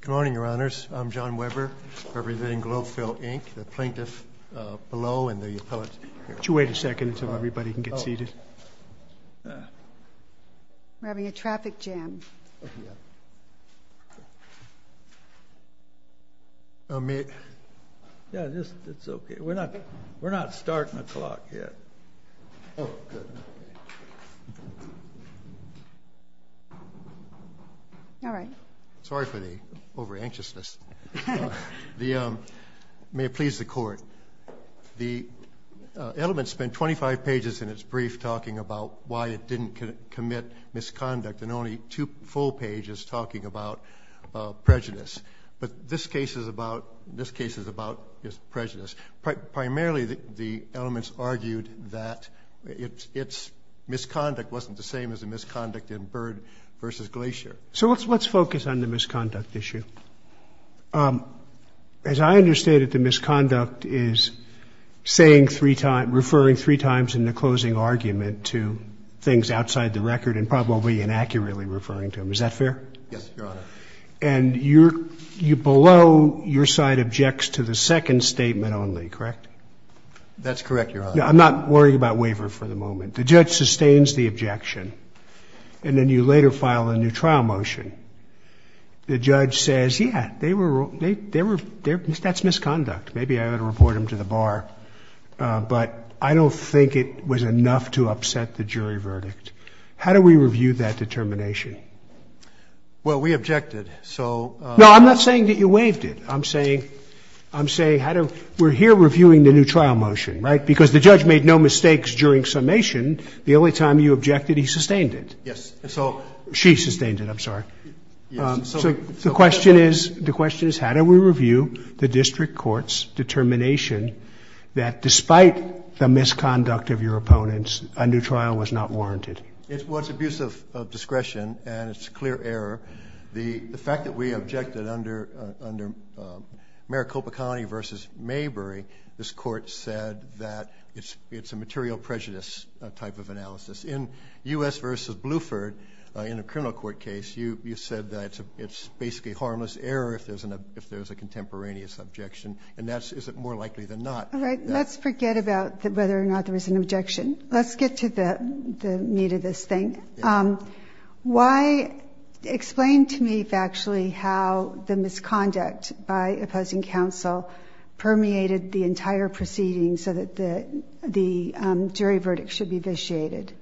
Good morning, Your Honors. I'm John Weber representing Globefill, Inc., the plaintiff below and the appellate here. Would you wait a second until everybody can get seated? We're having a traffic jam. May I? Yeah, it's okay. We're not starting the clock yet. Oh, good. All right. Sorry for the over-anxiousness. May it please the Court. The elements spent 25 pages in its brief talking about why it didn't commit misconduct and only two full pages talking about prejudice. But this case is about prejudice. Primarily, the elements argued that its misconduct wasn't the same as the misconduct in Byrd v. Glacier. So let's focus on the misconduct issue. As I understand it, the misconduct is referring three times in the closing argument to things outside the record and probably inaccurately referring to them. Is that fair? Yes, Your Honor. And below, your side objects to the second statement only, correct? That's correct, Your Honor. I'm not worried about waiver for the moment. The judge sustains the objection. And then you later file a new trial motion. The judge says, yeah, that's misconduct. Maybe I ought to report him to the bar. But I don't think it was enough to upset the jury verdict. How do we review that determination? Well, we objected. No, I'm not saying that you waived it. I'm saying we're here reviewing the new trial motion, right, because the judge made no mistakes during summation. The only time you objected, he sustained it. Yes. She sustained it. I'm sorry. So the question is, how do we review the district court's determination that despite the misconduct of your opponents, a new trial was not warranted? Well, it's abuse of discretion, and it's a clear error. The fact that we objected under Maricopa County v. Maybury, this court said that it's a material prejudice type of analysis. In U.S. v. Bluford, in a criminal court case, you said that it's basically harmless error if there's a contemporaneous objection, and that's more likely than not. All right, let's forget about whether or not there was an objection. Let's get to the meat of this thing. Explain to me factually how the misconduct by opposing counsel permeated the entire proceeding so that the jury verdict should be vitiated.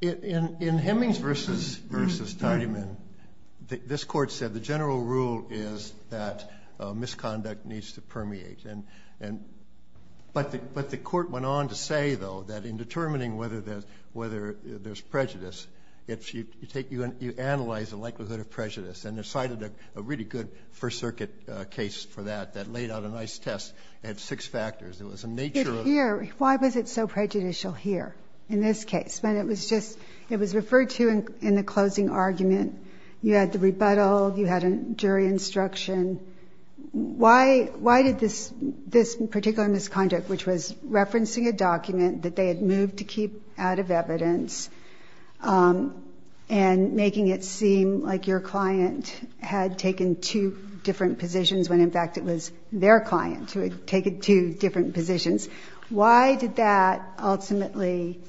In Hemmings v. Tidyman, this court said the general rule is that misconduct needs to permeate. But the court went on to say, though, that in determining whether there's prejudice, you analyze the likelihood of prejudice, and decided a really good First Circuit case for that that laid out a nice test. It had six factors. It was a nature of ‑‑ Why was it so prejudicial here in this case? It was referred to in the closing argument. You had the rebuttal. You had a jury instruction. Why did this particular misconduct, which was referencing a document that they had moved to keep out of evidence and making it seem like your client had taken two different positions, when, in fact, it was their client who had taken two different positions, why did that ultimately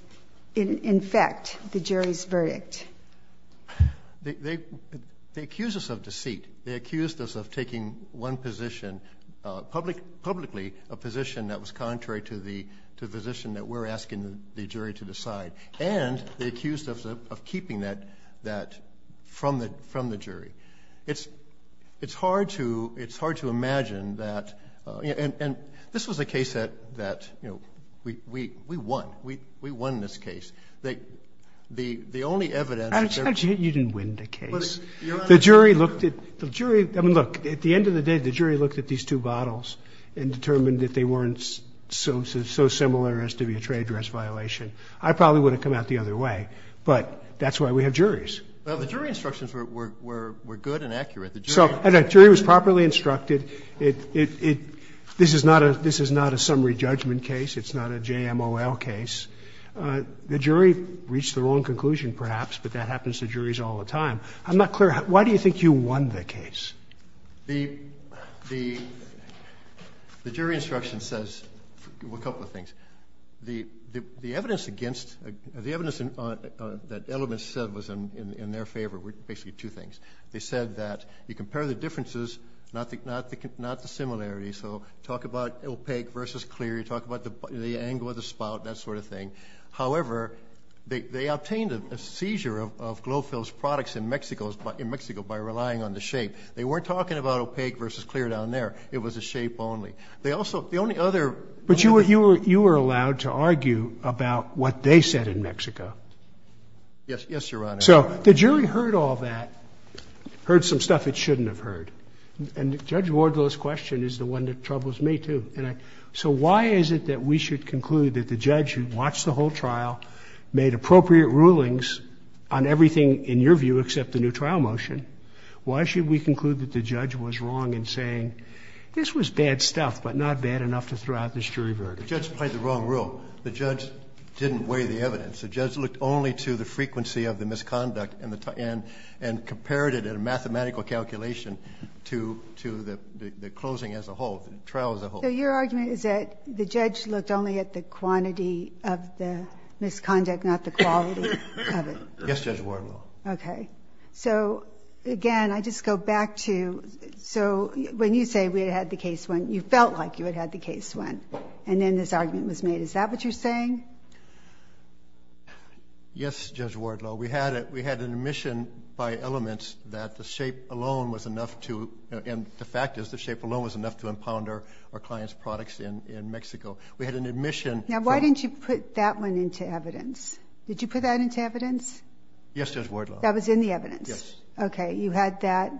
infect the jury's verdict? They accused us of deceit. They accused us of taking one position, publicly a position that was contrary to the position that we're asking the jury to decide, and they accused us of keeping that from the jury. It's hard to imagine that ‑‑ and this was a case that, you know, we won. We won this case. The only evidence ‑‑ You didn't win the case. The jury looked at the jury. I mean, look, at the end of the day, the jury looked at these two bottles and determined that they weren't so similar as to be a trade dress violation. I probably would have come out the other way, but that's why we have juries. Well, the jury instructions were good and accurate. So the jury was properly instructed. This is not a summary judgment case. It's not a JMOL case. The jury reached the wrong conclusion, perhaps, but that happens to juries all the time. I'm not clear. Why do you think you won the case? The jury instruction says a couple of things. The evidence against ‑‑ the evidence that elements said was in their favor were basically two things. They said that you compare the differences, not the similarities. So talk about opaque versus clear. You talk about the angle of the spout, that sort of thing. However, they obtained a seizure of Glofil's products in Mexico by relying on the shape. They weren't talking about opaque versus clear down there. It was the shape only. They also ‑‑ the only other ‑‑ But you were allowed to argue about what they said in Mexico. Yes, Your Honor. So the jury heard all that, heard some stuff it shouldn't have heard. And Judge Wardlow's question is the one that troubles me, too. So why is it that we should conclude that the judge who watched the whole trial made appropriate rulings on everything, in your view, except the new trial motion? Why should we conclude that the judge was wrong in saying this was bad stuff but not bad enough to throw out this jury verdict? The judge played the wrong rule. The judge didn't weigh the evidence. The judge looked only to the frequency of the misconduct and compared it in a mathematical calculation to the closing as a whole, the trial as a whole. So your argument is that the judge looked only at the quantity of the misconduct, not the quality of it? Yes, Judge Wardlow. Okay. So, again, I just go back to ‑‑ so when you say we had the case won, you felt like you had the case won. And then this argument was made. Is that what you're saying? Yes, Judge Wardlow. We had an admission by elements that the shape alone was enough to ‑‑ and the fact is the shape alone was enough to impound our client's products in Mexico. We had an admission. Now, why didn't you put that one into evidence? Did you put that into evidence? Yes, Judge Wardlow. That was in the evidence? Yes. Okay. You had that.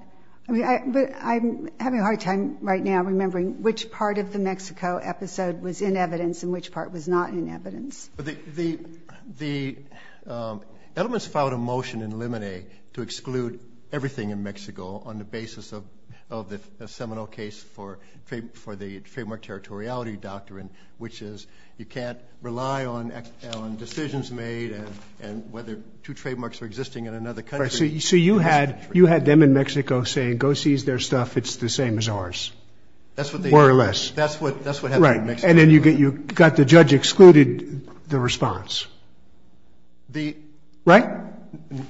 But I'm having a hard time right now remembering which part of the Mexico episode was in evidence and which part was not in evidence. The elements filed a motion in limine to exclude everything in Mexico on the basis of the seminal case for the Trademark Territoriality Doctrine, which is you can't rely on decisions made and whether two trademarks are existing in another country. So you had them in Mexico saying go seize their stuff, it's the same as ours. More or less. That's what happened in Mexico. And then you got the judge excluded the response. Right?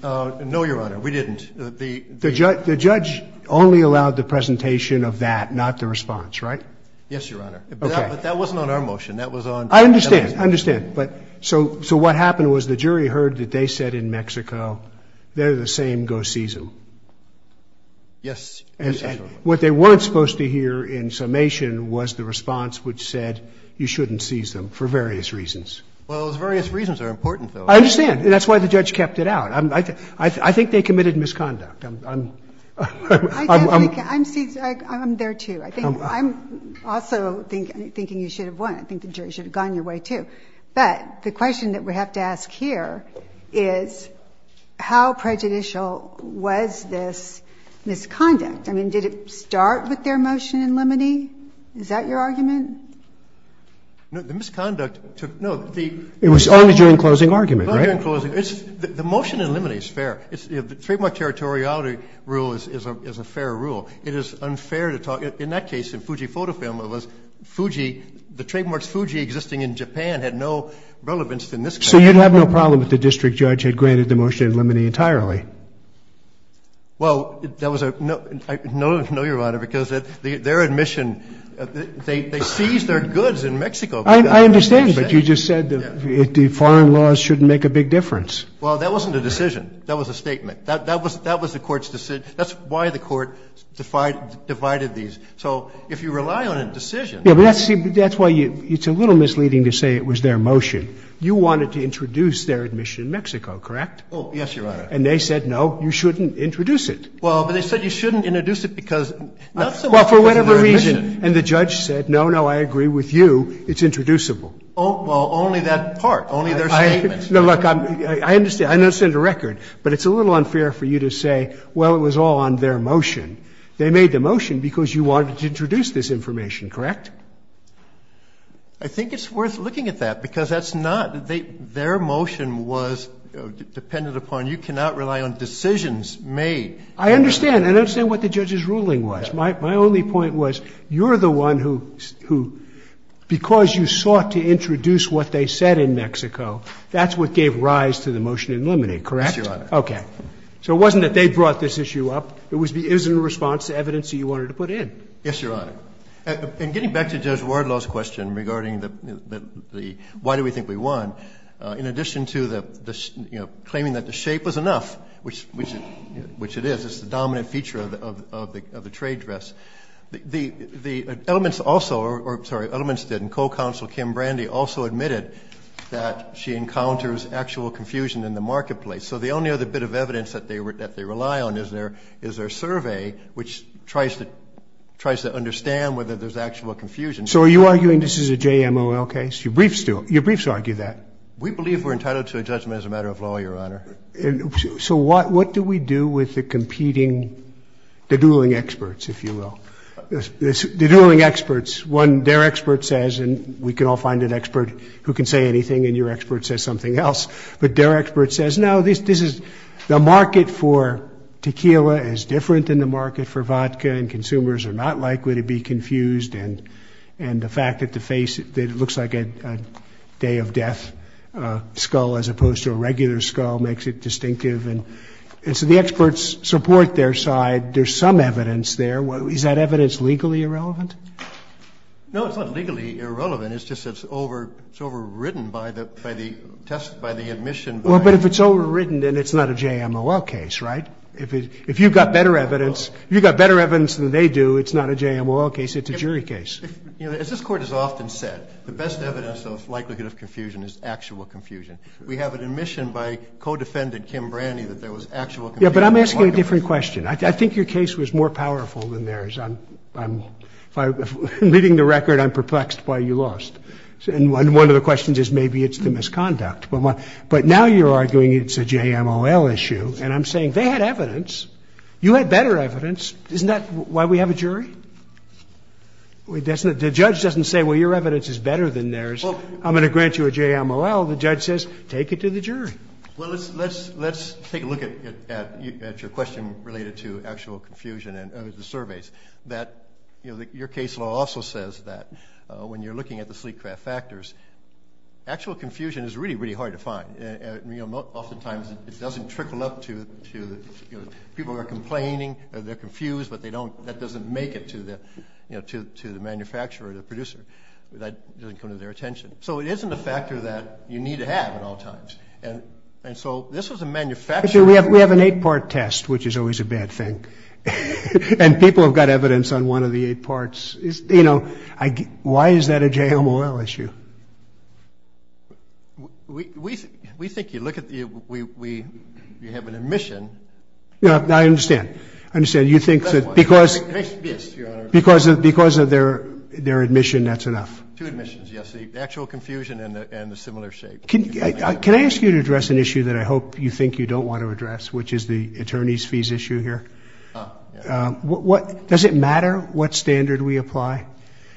No, Your Honor, we didn't. The judge only allowed the presentation of that, not the response, right? Yes, Your Honor. Okay. But that wasn't on our motion. That was on ‑‑ I understand. I understand. So what happened was the jury heard that they said in Mexico, they're the same, go seize them. Yes. What they weren't supposed to hear in summation was the response which said you shouldn't seize them for various reasons. Well, those various reasons are important, though. I understand. And that's why the judge kept it out. I think they committed misconduct. I'm ‑‑ I'm there, too. I'm also thinking you should have won. I think the jury should have gone your way, too. But the question that we have to ask here is how prejudicial was this misconduct? I mean, did it start with their motion in limine? Is that your argument? No, the misconduct took ‑‑ no, the ‑‑ It was only during closing argument, right? Only during closing. The motion in limine is fair. The trademark territoriality rule is a fair rule. It is unfair to talk ‑‑ in that case, in Fuji PhotoFilm, it was Fuji, the trademarks Fuji existing in Japan had no relevance in this case. So you'd have no problem if the district judge had granted the motion in limine entirely? Well, that was a ‑‑ no, Your Honor, because their admission, they seized their goods in Mexico. I understand, but you just said the foreign laws shouldn't make a big difference. Well, that wasn't a decision. That was a statement. That was the court's decision. That's why the court divided these. So if you rely on a decision ‑‑ Yeah, but that's why it's a little misleading to say it was their motion. You wanted to introduce their admission in Mexico, correct? Oh, yes, Your Honor. And they said, no, you shouldn't introduce it. Well, but they said you shouldn't introduce it because not so much because of their admission. Well, for whatever reason, and the judge said, no, no, I agree with you, it's introducible. Well, only that part. Only their statement. No, look, I understand. I understand the record. But it's a little unfair for you to say, well, it was all on their motion. They made the motion because you wanted to introduce this information, correct? I think it's worth looking at that, because that's not ‑‑ their motion was dependent upon you cannot rely on decisions made. I understand. I understand what the judge's ruling was. My only point was you're the one who, because you sought to introduce what they said in Mexico, that's what gave rise to the motion to eliminate, correct? Yes, Your Honor. So it wasn't that they brought this issue up. It was in response to evidence that you wanted to put in. Yes, Your Honor. And getting back to Judge Wardlow's question regarding the why do we think we won, in addition to the, you know, claiming that the shape was enough, which it is, it's the dominant feature of the trade dress, the elements also ‑‑ or, sorry, elements didn't. Co‑counsel Kim Brandy also admitted that she encounters actual confusion in the marketplace. So the only other bit of evidence that they rely on is their survey, which tries to understand whether there's actual confusion. So are you arguing this is a JMOL case? Your briefs do. Your briefs argue that. We believe we're entitled to a judgment as a matter of law, Your Honor. So what do we do with the competing, the dueling experts, if you will? The dueling experts. One, their expert says, and we can all find an expert who can say anything, and your expert says something else. But their expert says, no, this is ‑‑ the market for tequila is different than the market for vodka, and consumers are not likely to be confused, and the fact that the face looks like a day of death skull as opposed to a regular skull makes it distinctive. And so the experts support their side. There's some evidence there. Is that evidence legally irrelevant? No, it's not legally irrelevant. It's just that it's overwritten by the admission by ‑‑ Well, but if it's overwritten, then it's not a JMOL case, right? If you've got better evidence than they do, it's not a JMOL case. It's a jury case. As this Court has often said, the best evidence of likelihood of confusion is actual confusion. We have an admission by co‑defendant Kim Branny that there was actual confusion. Yeah, but I'm asking a different question. I think your case was more powerful than theirs. Leading the record, I'm perplexed why you lost. And one of the questions is maybe it's the misconduct. But now you're arguing it's a JMOL issue, and I'm saying they had evidence. You had better evidence. Isn't that why we have a jury? The judge doesn't say, well, your evidence is better than theirs. I'm going to grant you a JMOL. The judge says, take it to the jury. Well, let's take a look at your question related to actual confusion and the fact that your case law also says that when you're looking at the sleek craft factors, actual confusion is really, really hard to find. Oftentimes it doesn't trickle up to people who are complaining, they're confused, but that doesn't make it to the manufacturer or the producer. That doesn't come to their attention. So it isn't a factor that you need to have at all times. And so this was a manufacturer. We have an eight‑part test, which is always a bad thing. And people have got evidence on one of the eight parts. You know, why is that a JMOL issue? We think you look at the ‑‑ you have an admission. I understand. I understand. You think that because ‑‑ Yes, Your Honor. Because of their admission, that's enough. Two admissions, yes. The actual confusion and the similar shape. Can I ask you to address an issue that I hope you think you don't want to Does it matter what standard we apply?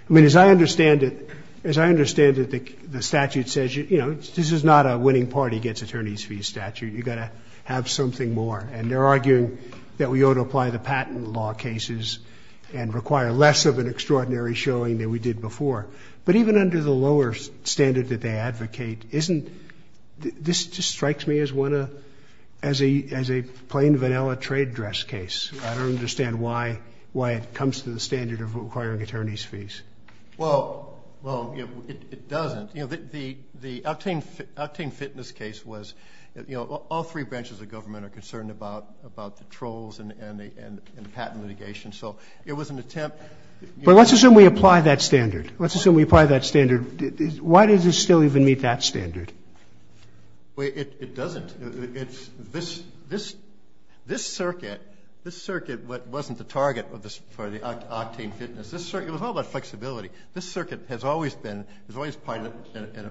I mean, as I understand it, the statute says, you know, this is not a winning party gets attorney's fee statute. You've got to have something more. And they're arguing that we ought to apply the patent law cases and require less of an extraordinary showing than we did before. But even under the lower standard that they advocate, isn't ‑‑ this just strikes me as one of ‑‑ as a plain vanilla trade dress case. I don't understand why it comes to the standard of requiring attorney's fees. Well, it doesn't. You know, the octane fitness case was, you know, all three branches of government are concerned about the trolls and the patent litigation. So it was an attempt But let's assume we apply that standard. Let's assume we apply that standard. Why does it still even meet that standard? It doesn't. This circuit, this circuit wasn't the target for the octane fitness. It was all about flexibility. This circuit has always been, has always been an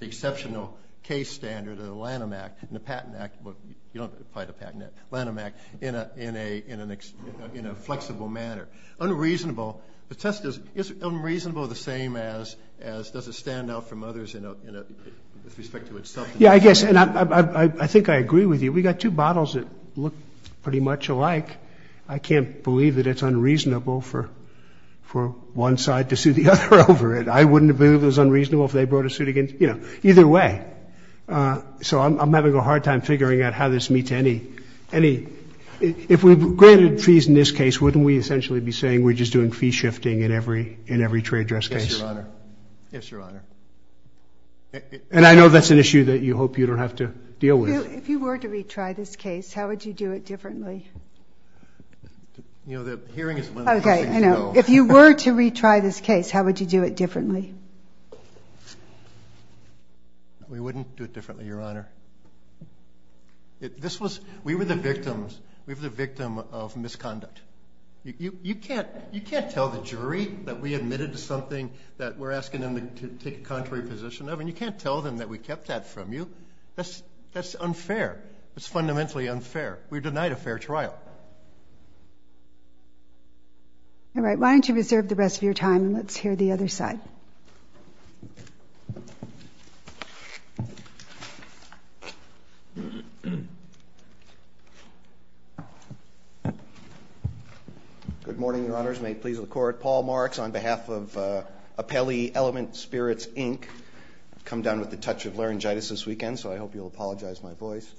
exceptional case standard of the Lanham Act and the Patent Act. You don't apply the Patent Act. Lanham Act in a flexible manner. Unreasonable. The test is unreasonable the same as does it stand out from others in a, with respect to itself. Yeah, I guess, and I think I agree with you. We got two bottles that look pretty much alike. I can't believe that it's unreasonable for one side to sue the other over it. I wouldn't have believed it was unreasonable if they brought a suit against, you know, either way. So I'm having a hard time figuring out how this meets any, any. If we granted fees in this case, wouldn't we essentially be saying we're just doing fee shifting in every, in every trade dress case? Yes, Your Honor. Yes, Your Honor. And I know that's an issue that you hope you don't have to deal with. If you were to retry this case, how would you do it differently? You know, the hearing is one of the first things you do. Okay, I know. If you were to retry this case, how would you do it differently? We wouldn't do it differently, Your Honor. This was, we were the victims. We were the victim of misconduct. You can't, you can't tell the jury that we admitted to something that we're asking them to take a contrary position of, and you can't tell them that we kept that from you. That's unfair. It's fundamentally unfair. We're denied a fair trial. All right, why don't you reserve the rest of your time, and let's hear the other side. Good morning, Your Honors. May it please the Court. Paul Marks on behalf of Apelli Element Spirits, Inc. I've come down with a touch of laryngitis this weekend, so I hope you'll apologize for my voice.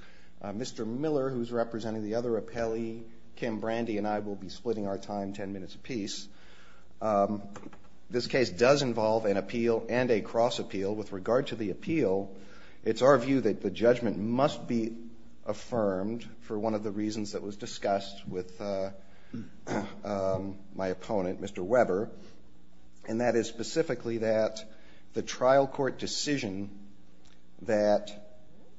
Mr. Miller, who's representing the other Apelli, Kim Brandy and I will be splitting our time 10 minutes apiece. This case does involve an appeal and a cross appeal. With regard to the appeal, it's our view that the judgment must be affirmed for one of the reasons that was discussed with my opponent, Mr. Weber, and that is specifically that the trial court decision that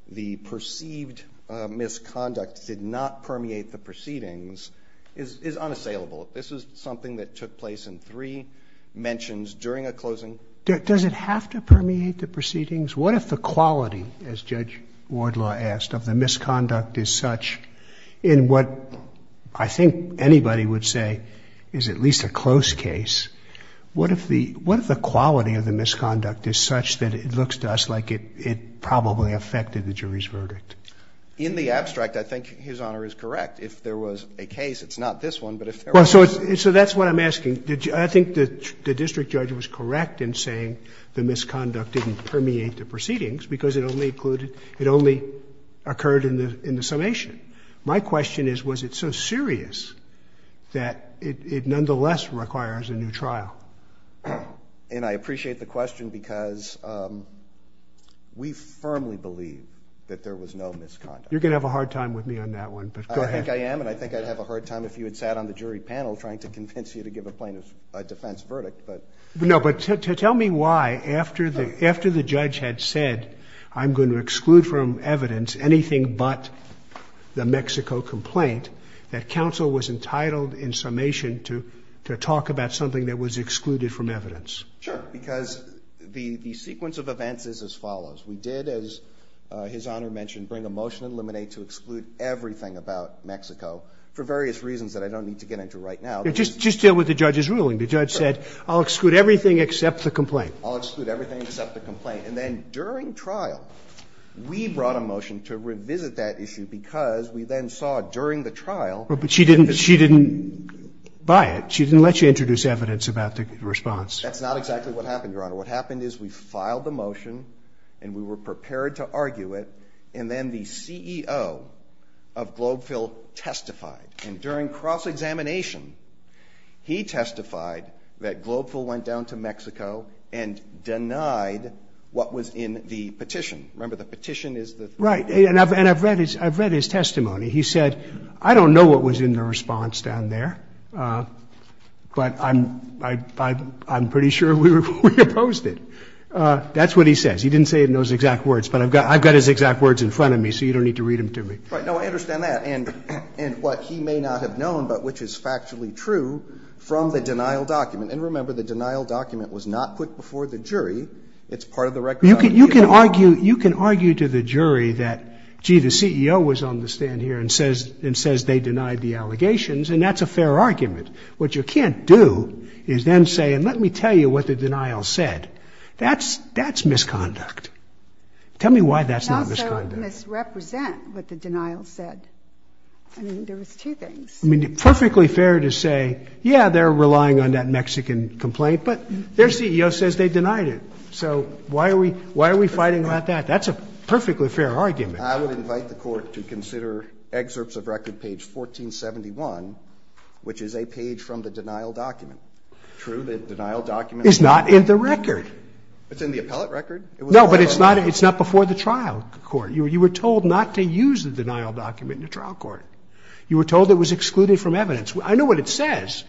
the perceived misconduct did not permeate the proceedings is unassailable. This is something that took place in three mentions during a closing. Does it have to permeate the proceedings? What if the quality, as Judge Wardlaw asked, of the misconduct is such in what I think anybody would say is at least a close case. What if the quality of the misconduct is such that it looks to us like it probably affected the jury's verdict? In the abstract, I think His Honor is correct. If there was a case, it's not this one, but if there was one. So that's what I'm asking. I think the district judge was correct in saying the misconduct didn't permeate the proceedings because it only occurred in the summation. My question is was it so serious that it nonetheless requires a new trial? And I appreciate the question because we firmly believe that there was no misconduct. You're going to have a hard time with me on that one, but go ahead. I think I am and I think I'd have a hard time if you had sat on the jury panel trying to convince you to give a plaintiff a defense verdict. No, but tell me why, after the judge had said, I'm going to exclude from evidence anything but the Mexico complaint, that counsel was entitled in summation to talk about something that was excluded from evidence? Sure. Because the sequence of events is as follows. We did, as His Honor mentioned, bring a motion in limine to exclude everything about Mexico for various reasons that I don't need to get into right now. Just deal with the judge's ruling. The judge said, I'll exclude everything except the complaint. I'll exclude everything except the complaint. And then during trial, we brought a motion to revisit that issue because we then saw during the trial. But she didn't buy it. She didn't let you introduce evidence about the response. That's not exactly what happened, Your Honor. What happened is we filed the motion and we were prepared to argue it, and then the CEO of Globeville testified. And during cross-examination, he testified that Globeville went down to Mexico and denied what was in the petition. Remember, the petition is the thing. Right. And I've read his testimony. He said, I don't know what was in the response down there, but I'm pretty sure we opposed it. That's what he says. He didn't say it in those exact words, but I've got his exact words in front of me, so you don't need to read them to me. Right. No, I understand that. And what he may not have known, but which is factually true, from the denial document. And remember, the denial document was not put before the jury. It's part of the record document. You can argue to the jury that, gee, the CEO was on the stand here and says they denied the allegations, and that's a fair argument. What you can't do is then say, and let me tell you what the denial said. That's misconduct. Tell me why that's not misconduct. And also misrepresent what the denial said. I mean, there was two things. I mean, perfectly fair to say, yeah, they're relying on that Mexican complaint, but their CEO says they denied it. So why are we fighting about that? That's a perfectly fair argument. I would invite the court to consider excerpts of record page 1471, which is a page from the denial document. True, the denial document is not in the record. It's in the appellate record? No, but it's not before the trial court. You were told not to use the denial document in the trial court. You were told it was excluded from evidence. I know what it says.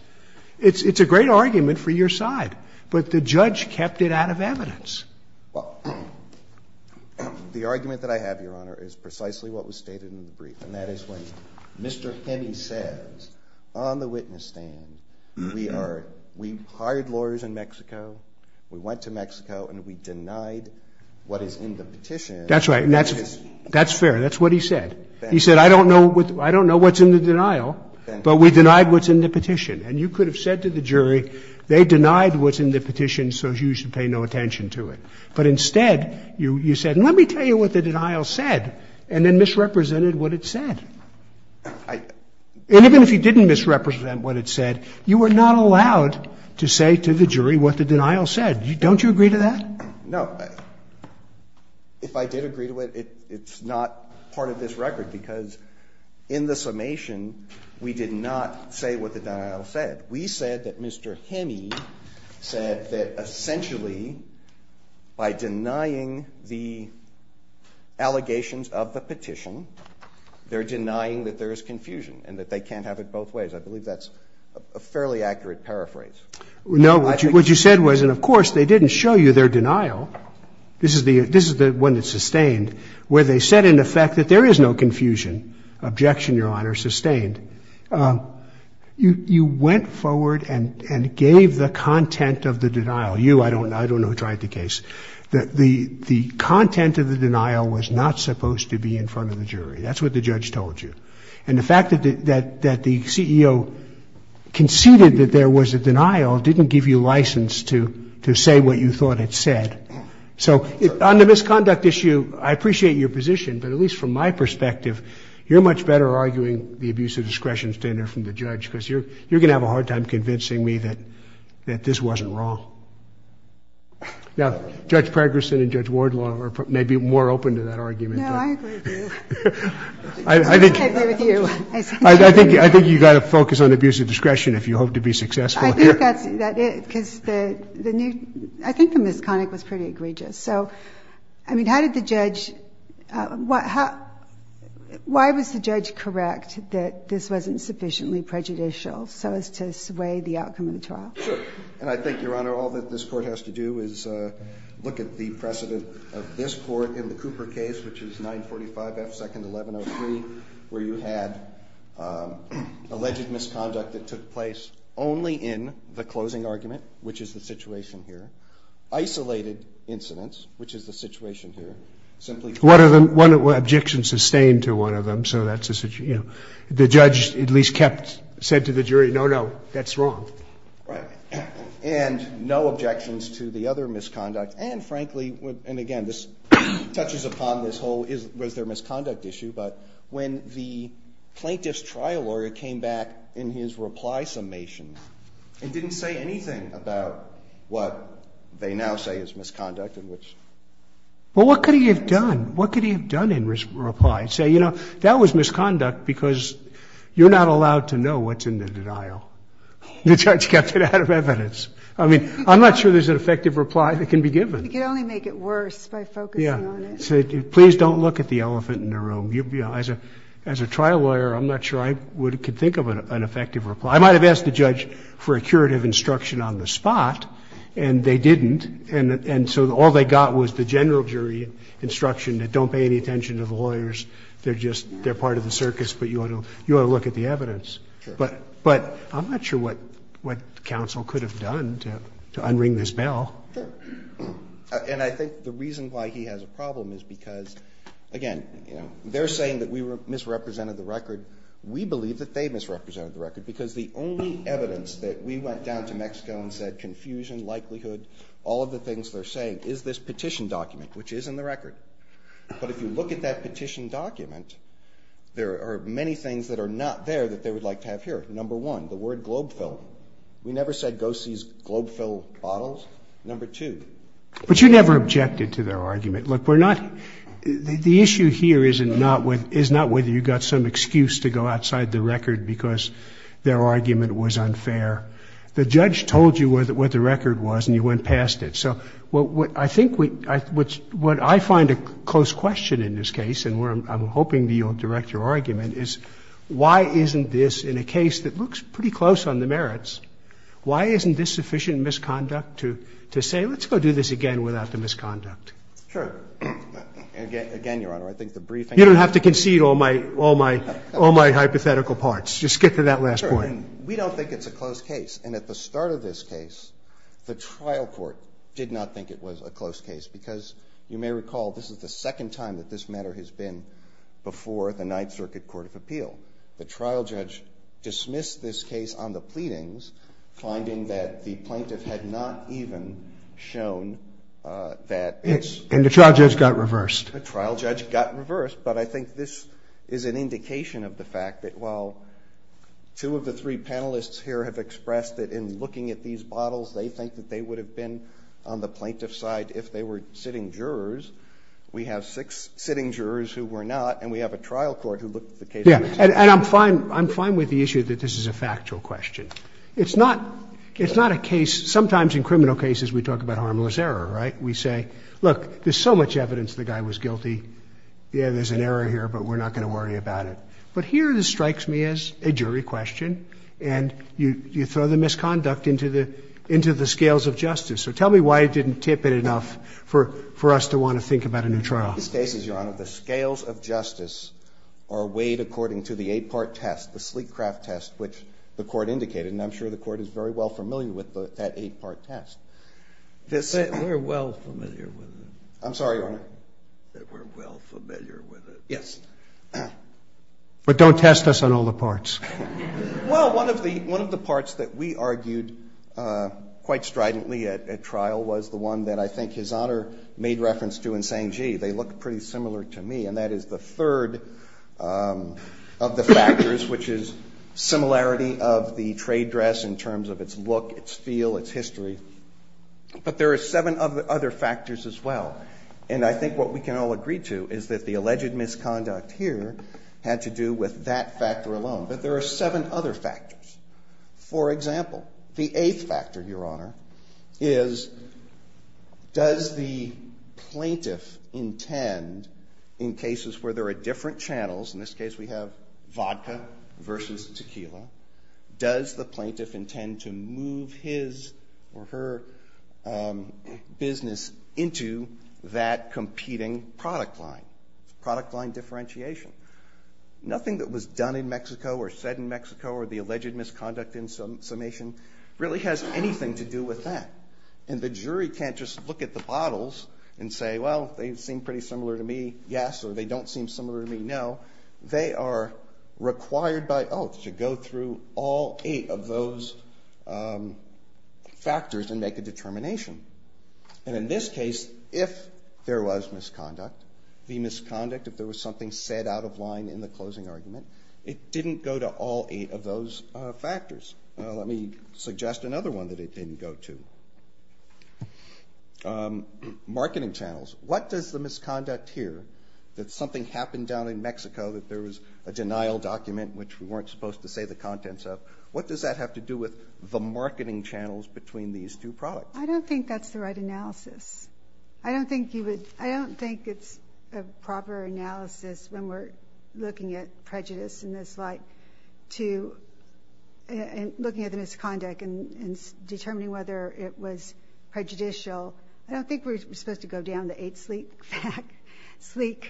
It's a great argument for your side. But the judge kept it out of evidence. Well, the argument that I have, Your Honor, is precisely what was stated in the brief, and that is when Mr. Henney says, on the witness stand, we hired lawyers in Mexico, we went to Mexico, and we denied what is in the petition. That's right. And that's fair. That's what he said. He said, I don't know what's in the denial, but we denied what's in the petition. And you could have said to the jury, they denied what's in the petition, so you should pay no attention to it. But instead, you said, let me tell you what the denial said, and then misrepresented what it said. And even if you didn't misrepresent what it said, you were not allowed to say to the jury what the denial said. Don't you agree to that? No. If I did agree to it, it's not part of this record, because in the summation, we did not say what the denial said. We said that Mr. Henney said that, essentially, by denying the allegations of the petition, they're denying that there is confusion and that they can't have it both ways. I believe that's a fairly accurate paraphrase. No. What you said was, and of course, they didn't show you their denial. This is the one that's sustained, where they said, in effect, that there is no confusion. Objection, Your Honor. Sustained. You went forward and gave the content of the denial. You, I don't know, tried the case. The content of the denial was not supposed to be in front of the jury. That's what the judge told you. And the fact that the CEO conceded that there was a denial didn't give you license to say what you thought it said. So on the misconduct issue, I appreciate your position, but at least from my perspective, you're much better arguing the abuse of discretion standard from the judge, because you're going to have a hard time convincing me that this wasn't wrong. Now, Judge Pregerson and Judge Wardlaw may be more open to that argument. No, I agree with you. I think you've got to focus on abuse of discretion if you hope to be successful here. I think that's it, because the new – I think the misconduct was pretty egregious. So, I mean, how did the judge – why was the judge correct that this wasn't sufficiently prejudicial so as to sway the outcome of the trial? Sure. And I think, Your Honor, all that this Court has to do is look at the precedent of this Court in the Cooper case, which is 945 F. 2nd. 1103, where you had alleged misconduct that took place only in the closing argument, which is the situation here. Isolated incidents, which is the situation here, simply – One objection sustained to one of them, so that's – the judge at least kept – said to the jury, no, no, that's wrong. Right. And no objections to the other misconduct. And, frankly – and, again, this touches upon this whole was there misconduct issue, but when the plaintiff's trial lawyer came back in his reply summation and didn't say anything about what they now say is misconduct and which – Well, what could he have done? What could he have done in reply? Say, you know, that was misconduct because you're not allowed to know what's in the denial. The judge kept it out of evidence. I mean, I'm not sure there's an effective reply that can be given. You can only make it worse by focusing on it. Yeah. So please don't look at the elephant in the room. As a trial lawyer, I'm not sure I could think of an effective reply. I might have asked the judge for a curative instruction on the spot, and they didn't, and so all they got was the general jury instruction that don't pay any attention to the lawyers, they're just – they're part of the circus, but you ought to look at the evidence. Sure. But I'm not sure what counsel could have done to unring this bell. Sure. And I think the reason why he has a problem is because, again, you know, they're saying that we misrepresented the record. We believe that they misrepresented the record because the only evidence that we went down to Mexico and said confusion, likelihood, all of the things they're saying is this petition document, which is in the record. But if you look at that petition document, there are many things that are not there that they would like to have here. Number one, the word globe fill. We never said go seize globe fill bottles. Number two. But you never objected to their argument. Look, we're not – the issue here is not whether you got some excuse to go outside the record because their argument was unfair. The judge told you what the record was and you went past it. So I think what I find a close question in this case, and I'm hoping that you'll direct your argument, is why isn't this, in a case that looks pretty close on the merits, why isn't this sufficient misconduct to say let's go do this again without the misconduct? Sure. Again, Your Honor, I think the briefing – You don't have to concede all my hypothetical parts. Just get to that last point. Sure. And we don't think it's a close case. And at the start of this case, the trial court did not think it was a close case because you may recall this is the second time that this matter has been before the Ninth Circuit Court of Appeal. The trial judge dismissed this case on the pleadings, finding that the plaintiff had not even shown that it's – And the trial judge got reversed. The trial judge got reversed. But I think this is an indication of the fact that while two of the three panelists here have expressed that in looking at these bottles, they think that they would have been on the plaintiff's side if they were sitting jurors. We have six sitting jurors who were not. And we have a trial court who looked at the case. And I'm fine with the issue that this is a factual question. It's not a case – sometimes in criminal cases we talk about harmless error, right? We say, look, there's so much evidence the guy was guilty. Yeah, there's an error here, but we're not going to worry about it. But here this strikes me as a jury question. And you throw the misconduct into the scales of justice. So tell me why it didn't tip it enough for us to want to think about a new trial. In these cases, Your Honor, the scales of justice are weighed according to the eight-part test, the sleek craft test, which the Court indicated. And I'm sure the Court is very well familiar with that eight-part test. We're well familiar with it. I'm sorry, Your Honor. We're well familiar with it. Yes. But don't test us on all the parts. Well, one of the parts that we argued quite stridently at trial was the one that I think His Honor made reference to in saying, gee, they look pretty similar to me, and that is the third of the factors, which is similarity of the trade dress in terms of its look, its feel, its history. But there are seven other factors as well. And I think what we can all agree to is that the alleged misconduct here had to do with that factor alone. But there are seven other factors. For example, the eighth factor, Your Honor, is does the plaintiff intend in cases where there are different channels, in this case we have vodka versus tequila, does the plaintiff intend to move his or her business into that competing product line, product line differentiation? Nothing that was done in Mexico or said in Mexico or the alleged misconduct in summation really has anything to do with that. And the jury can't just look at the bottles and say, well, they seem pretty similar to me, yes, or they don't seem similar to me, no. They are required by oath to go through all eight of those factors and make a determination. And in this case, if there was misconduct, the misconduct, if there was something said out of line in the closing argument, it didn't go to all eight of those factors. Let me suggest another one that it didn't go to. Marketing channels. What does the misconduct here, that something happened down in Mexico, that there was a denial document which we weren't supposed to say the contents of, what does that have to do with the marketing channels between these two products? I don't think that's the right analysis. I don't think you would, I don't think it's a proper analysis when we're looking at prejudice in this light to, looking at the misconduct and determining whether it was prejudicial. I don't think we're supposed to go down the eight sleek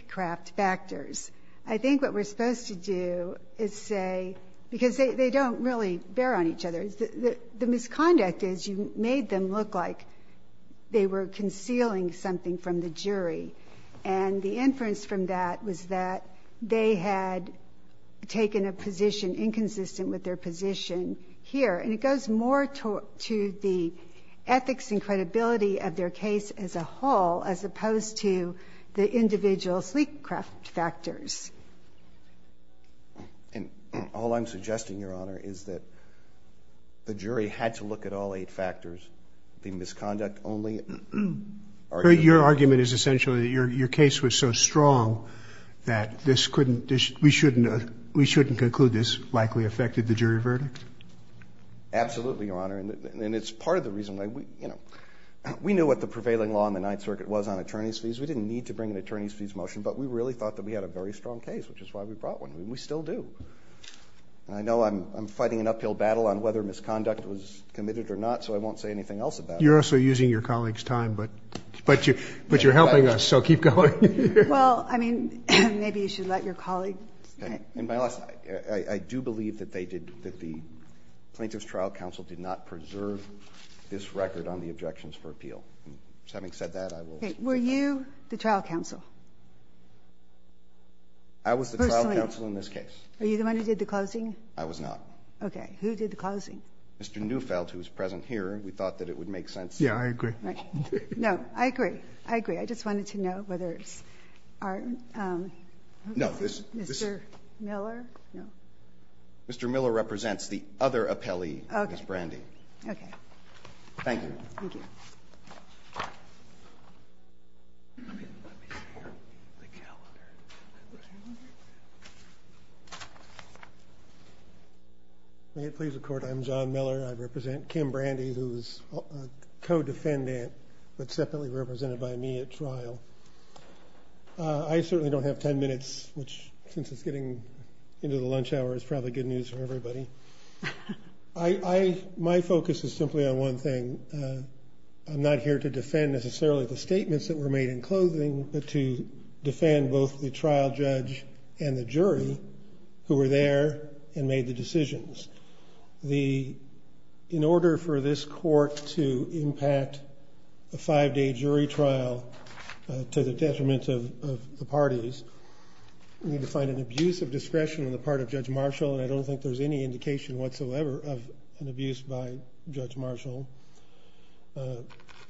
craft factors. I think what we're supposed to do is say, because they don't really bear on each other, the misconduct is you made them look like they were concealing something from the jury. And the inference from that was that they had taken a position inconsistent with their position here. And it goes more to the ethics and credibility of their case as a whole, as opposed to the individual sleek craft factors. And all I'm suggesting, Your Honor, is that the jury had to look at all eight factors, the misconduct only argument. Your argument is essentially that your case was so strong that this couldn't, we shouldn't conclude this likely affected the jury verdict? Absolutely, Your Honor. And it's part of the reason, we knew what the prevailing law in the Ninth Circuit was on attorney's fees. We didn't need to bring an attorney's fees motion. But we really thought that we had a very strong case, which is why we brought one, and we still do. And I know I'm fighting an uphill battle on whether misconduct was committed or not, so I won't say anything else about it. You're also using your colleague's time, but you're helping us, so keep going. Well, I mean, maybe you should let your colleague. And by the way, I do believe that they did, that the Plaintiff's Trial Counsel did not preserve this record on the objections for appeal. So having said that, I will. Okay. Were you the trial counsel? I was the trial counsel in this case. Are you the one who did the closing? I was not. Okay. Who did the closing? Mr. Neufeld, who is present here. We thought that it would make sense. Yeah, I agree. No, I agree. I agree. I just wanted to know whether it's our, Mr. Miller? No. Mr. Miller represents the other appellee, Ms. Brandy. Okay. Thank you. Thank you. Let me share the calendar. May it please the Court, I'm John Miller. I represent Kim Brandy, who is a co-defendant, but separately represented by me at trial. I certainly don't have 10 minutes, which, since it's getting into the lunch hour, is probably good news for everybody. My focus is simply on one thing. I'm not here to defend necessarily the statements that were made in closing, but to defend both the trial judge and the jury who were there and made the decisions. In order for this Court to impact a five-day jury trial to the detriment of the parties, we need to find an abuse of discretion on the part of Judge Marshall, and I don't think there's any indication whatsoever of an abuse by Judge Marshall.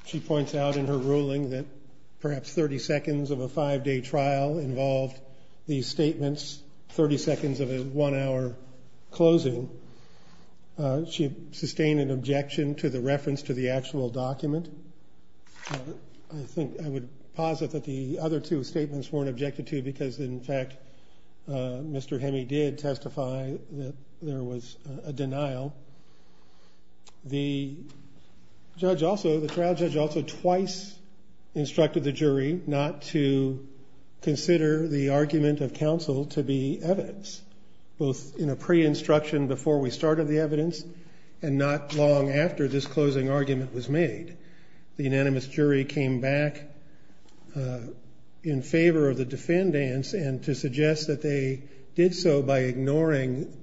She points out in her ruling that perhaps 30 seconds of a five-day trial involved these statements, 30 seconds of a one-hour closing. She sustained an objection to the reference to the actual document. I think I would posit that the other two statements weren't objected to because, in fact, Mr. Hemme did testify that there was a denial. The trial judge also twice instructed the jury not to consider the argument of counsel to be evidence, both in a pre-instruction before we started the evidence and not long after this closing argument was made. The unanimous jury came back in favor of the defendants, and to suggest that they did so by ignoring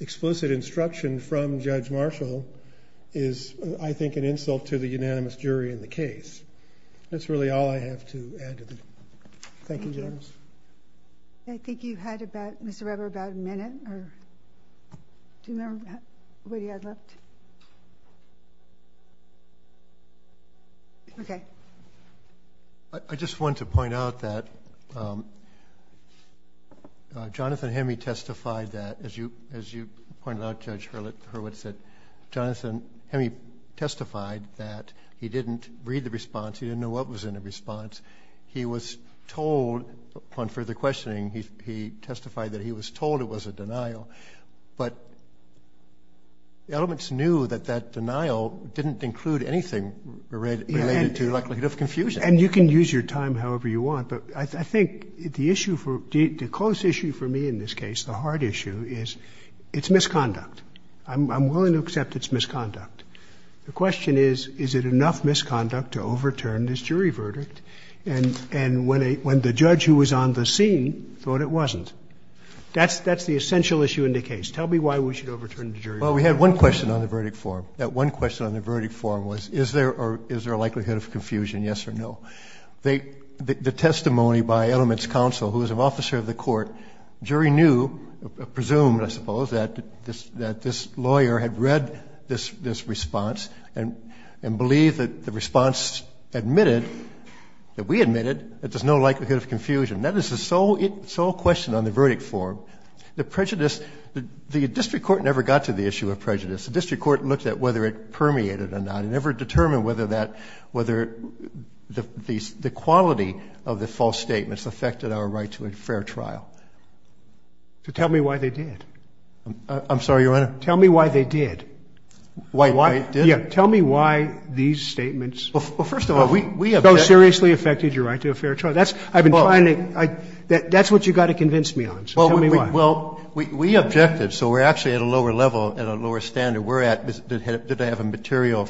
explicit instruction from Judge Marshall is, I think, an insult to the unanimous jury in the case. That's really all I have to add to that. Thank you, Judge. I think you had, Mr. Weber, about a minute. Do you remember what you had left? Okay. I just wanted to point out that Jonathan Hemme testified that, as you pointed out, Judge Hurwitz, that Jonathan Hemme testified that he didn't read the response. He didn't know what was in the response. He was told, upon further questioning, he testified that he was told it was a denial. But Elements knew that that denial didn't include anything related to likelihood of confusion. And you can use your time however you want. But I think the issue for the close issue for me in this case, the hard issue, is it's misconduct. I'm willing to accept it's misconduct. The question is, is it enough misconduct to overturn this jury verdict when the judge who was on the scene thought it wasn't? That's the essential issue in the case. Tell me why we should overturn the jury verdict. Well, we had one question on the verdict form. That one question on the verdict form was, is there a likelihood of confusion, yes or no? The testimony by Elements Counsel, who is an officer of the court, jury knew, presumed, I suppose, that this lawyer had read this response and believed that the response admitted, that we admitted, that there's no likelihood of confusion. That is the sole question on the verdict form. The prejudice, the district court never got to the issue of prejudice. The district court looked at whether it permeated or not. It never determined whether the quality of the false statements affected our right to a fair trial. So tell me why they did. I'm sorry, Your Honor? Tell me why they did. Why they did? Yeah, tell me why these statements so seriously affected your right to a fair trial. That's what you've got to convince me on, so tell me why. Well, we objected, so we're actually at a lower level and a lower standard. We're at, did they have a material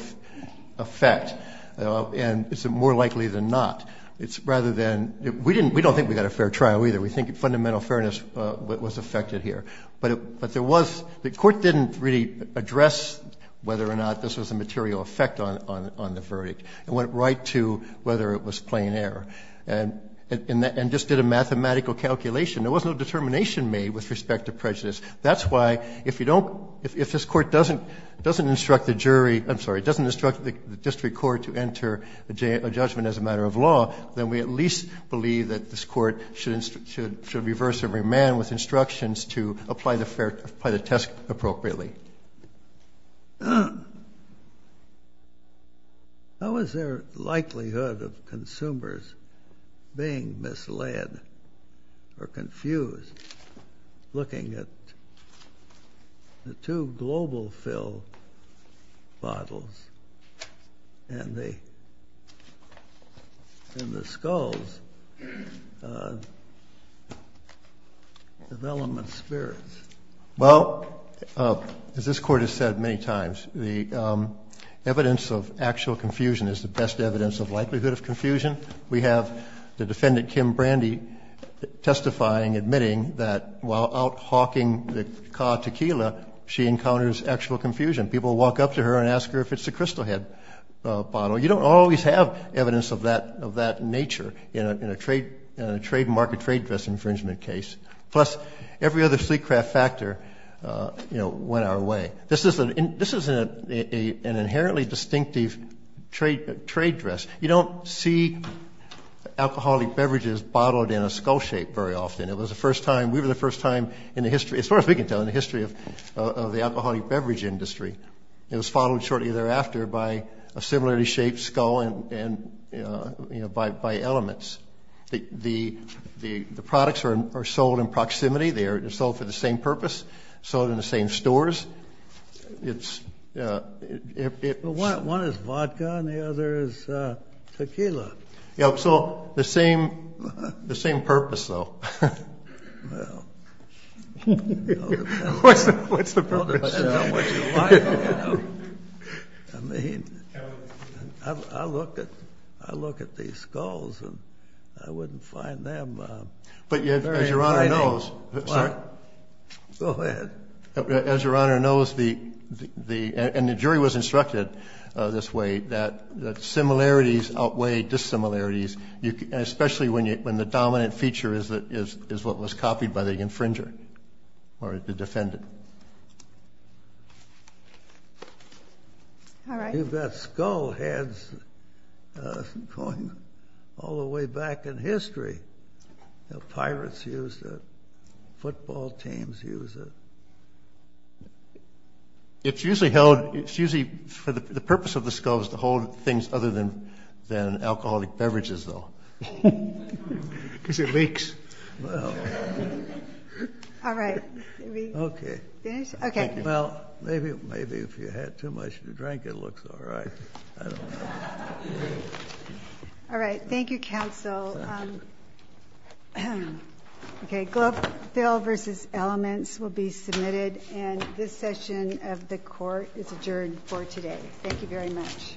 effect? And is it more likely than not? It's rather than, we don't think we got a fair trial either. We think fundamental fairness was affected here. But there was, the court didn't really address whether or not this was a material effect on the verdict. It went right to whether it was plain error and just did a mathematical calculation. There was no determination made with respect to prejudice. That's why if you don't, if this court doesn't instruct the jury, I'm sorry, doesn't instruct the district court to enter a judgment as a matter of law, then we at least believe that this court should reverse every man with instructions to apply the test appropriately. How is there likelihood of consumers being misled or confused looking at the two global fill bottles and the skulls of element spirits? Well, as this court has said many times, the evidence of actual confusion is the best evidence of likelihood of confusion. We have the defendant, Kim Brandy, testifying, admitting that while out hawking the ca tequila, she encounters actual confusion. People walk up to her and ask her if it's a crystal head bottle. You don't always have evidence of that nature in a trademark or trade dress infringement case. Plus, every other sleek craft factor, you know, went our way. This is an inherently distinctive trade dress. You don't see alcoholic beverages bottled in a skull shape very often. It was the first time, we were the first time in the history, as far as we can tell, in the history of the alcoholic beverage industry. It was followed shortly thereafter by a similarly shaped skull and, you know, by elements. The products are sold in proximity. They are sold for the same purpose, sold in the same stores. One is vodka and the other is tequila. So the same purpose, though. Well. What's the purpose? I mean, I look at these skulls and I wouldn't find them very exciting. But as Your Honor knows, the jury was instructed this way, that similarities outweigh dissimilarities, especially when the dominant feature is what was copied by the infringer or the defendant. You've got skull heads going all the way back in history. Pirates used it. Football teams used it. It's usually held, it's usually, the purpose of the skull is to hold things other than alcoholic beverages, though. Because it leaks. All right. Okay. Okay. Well, maybe if you had too much to drink it looks all right. I don't know. All right. Thank you, counsel. Okay. Globeville v. Elements will be submitted, and this session of the court is adjourned for today. Thank you very much.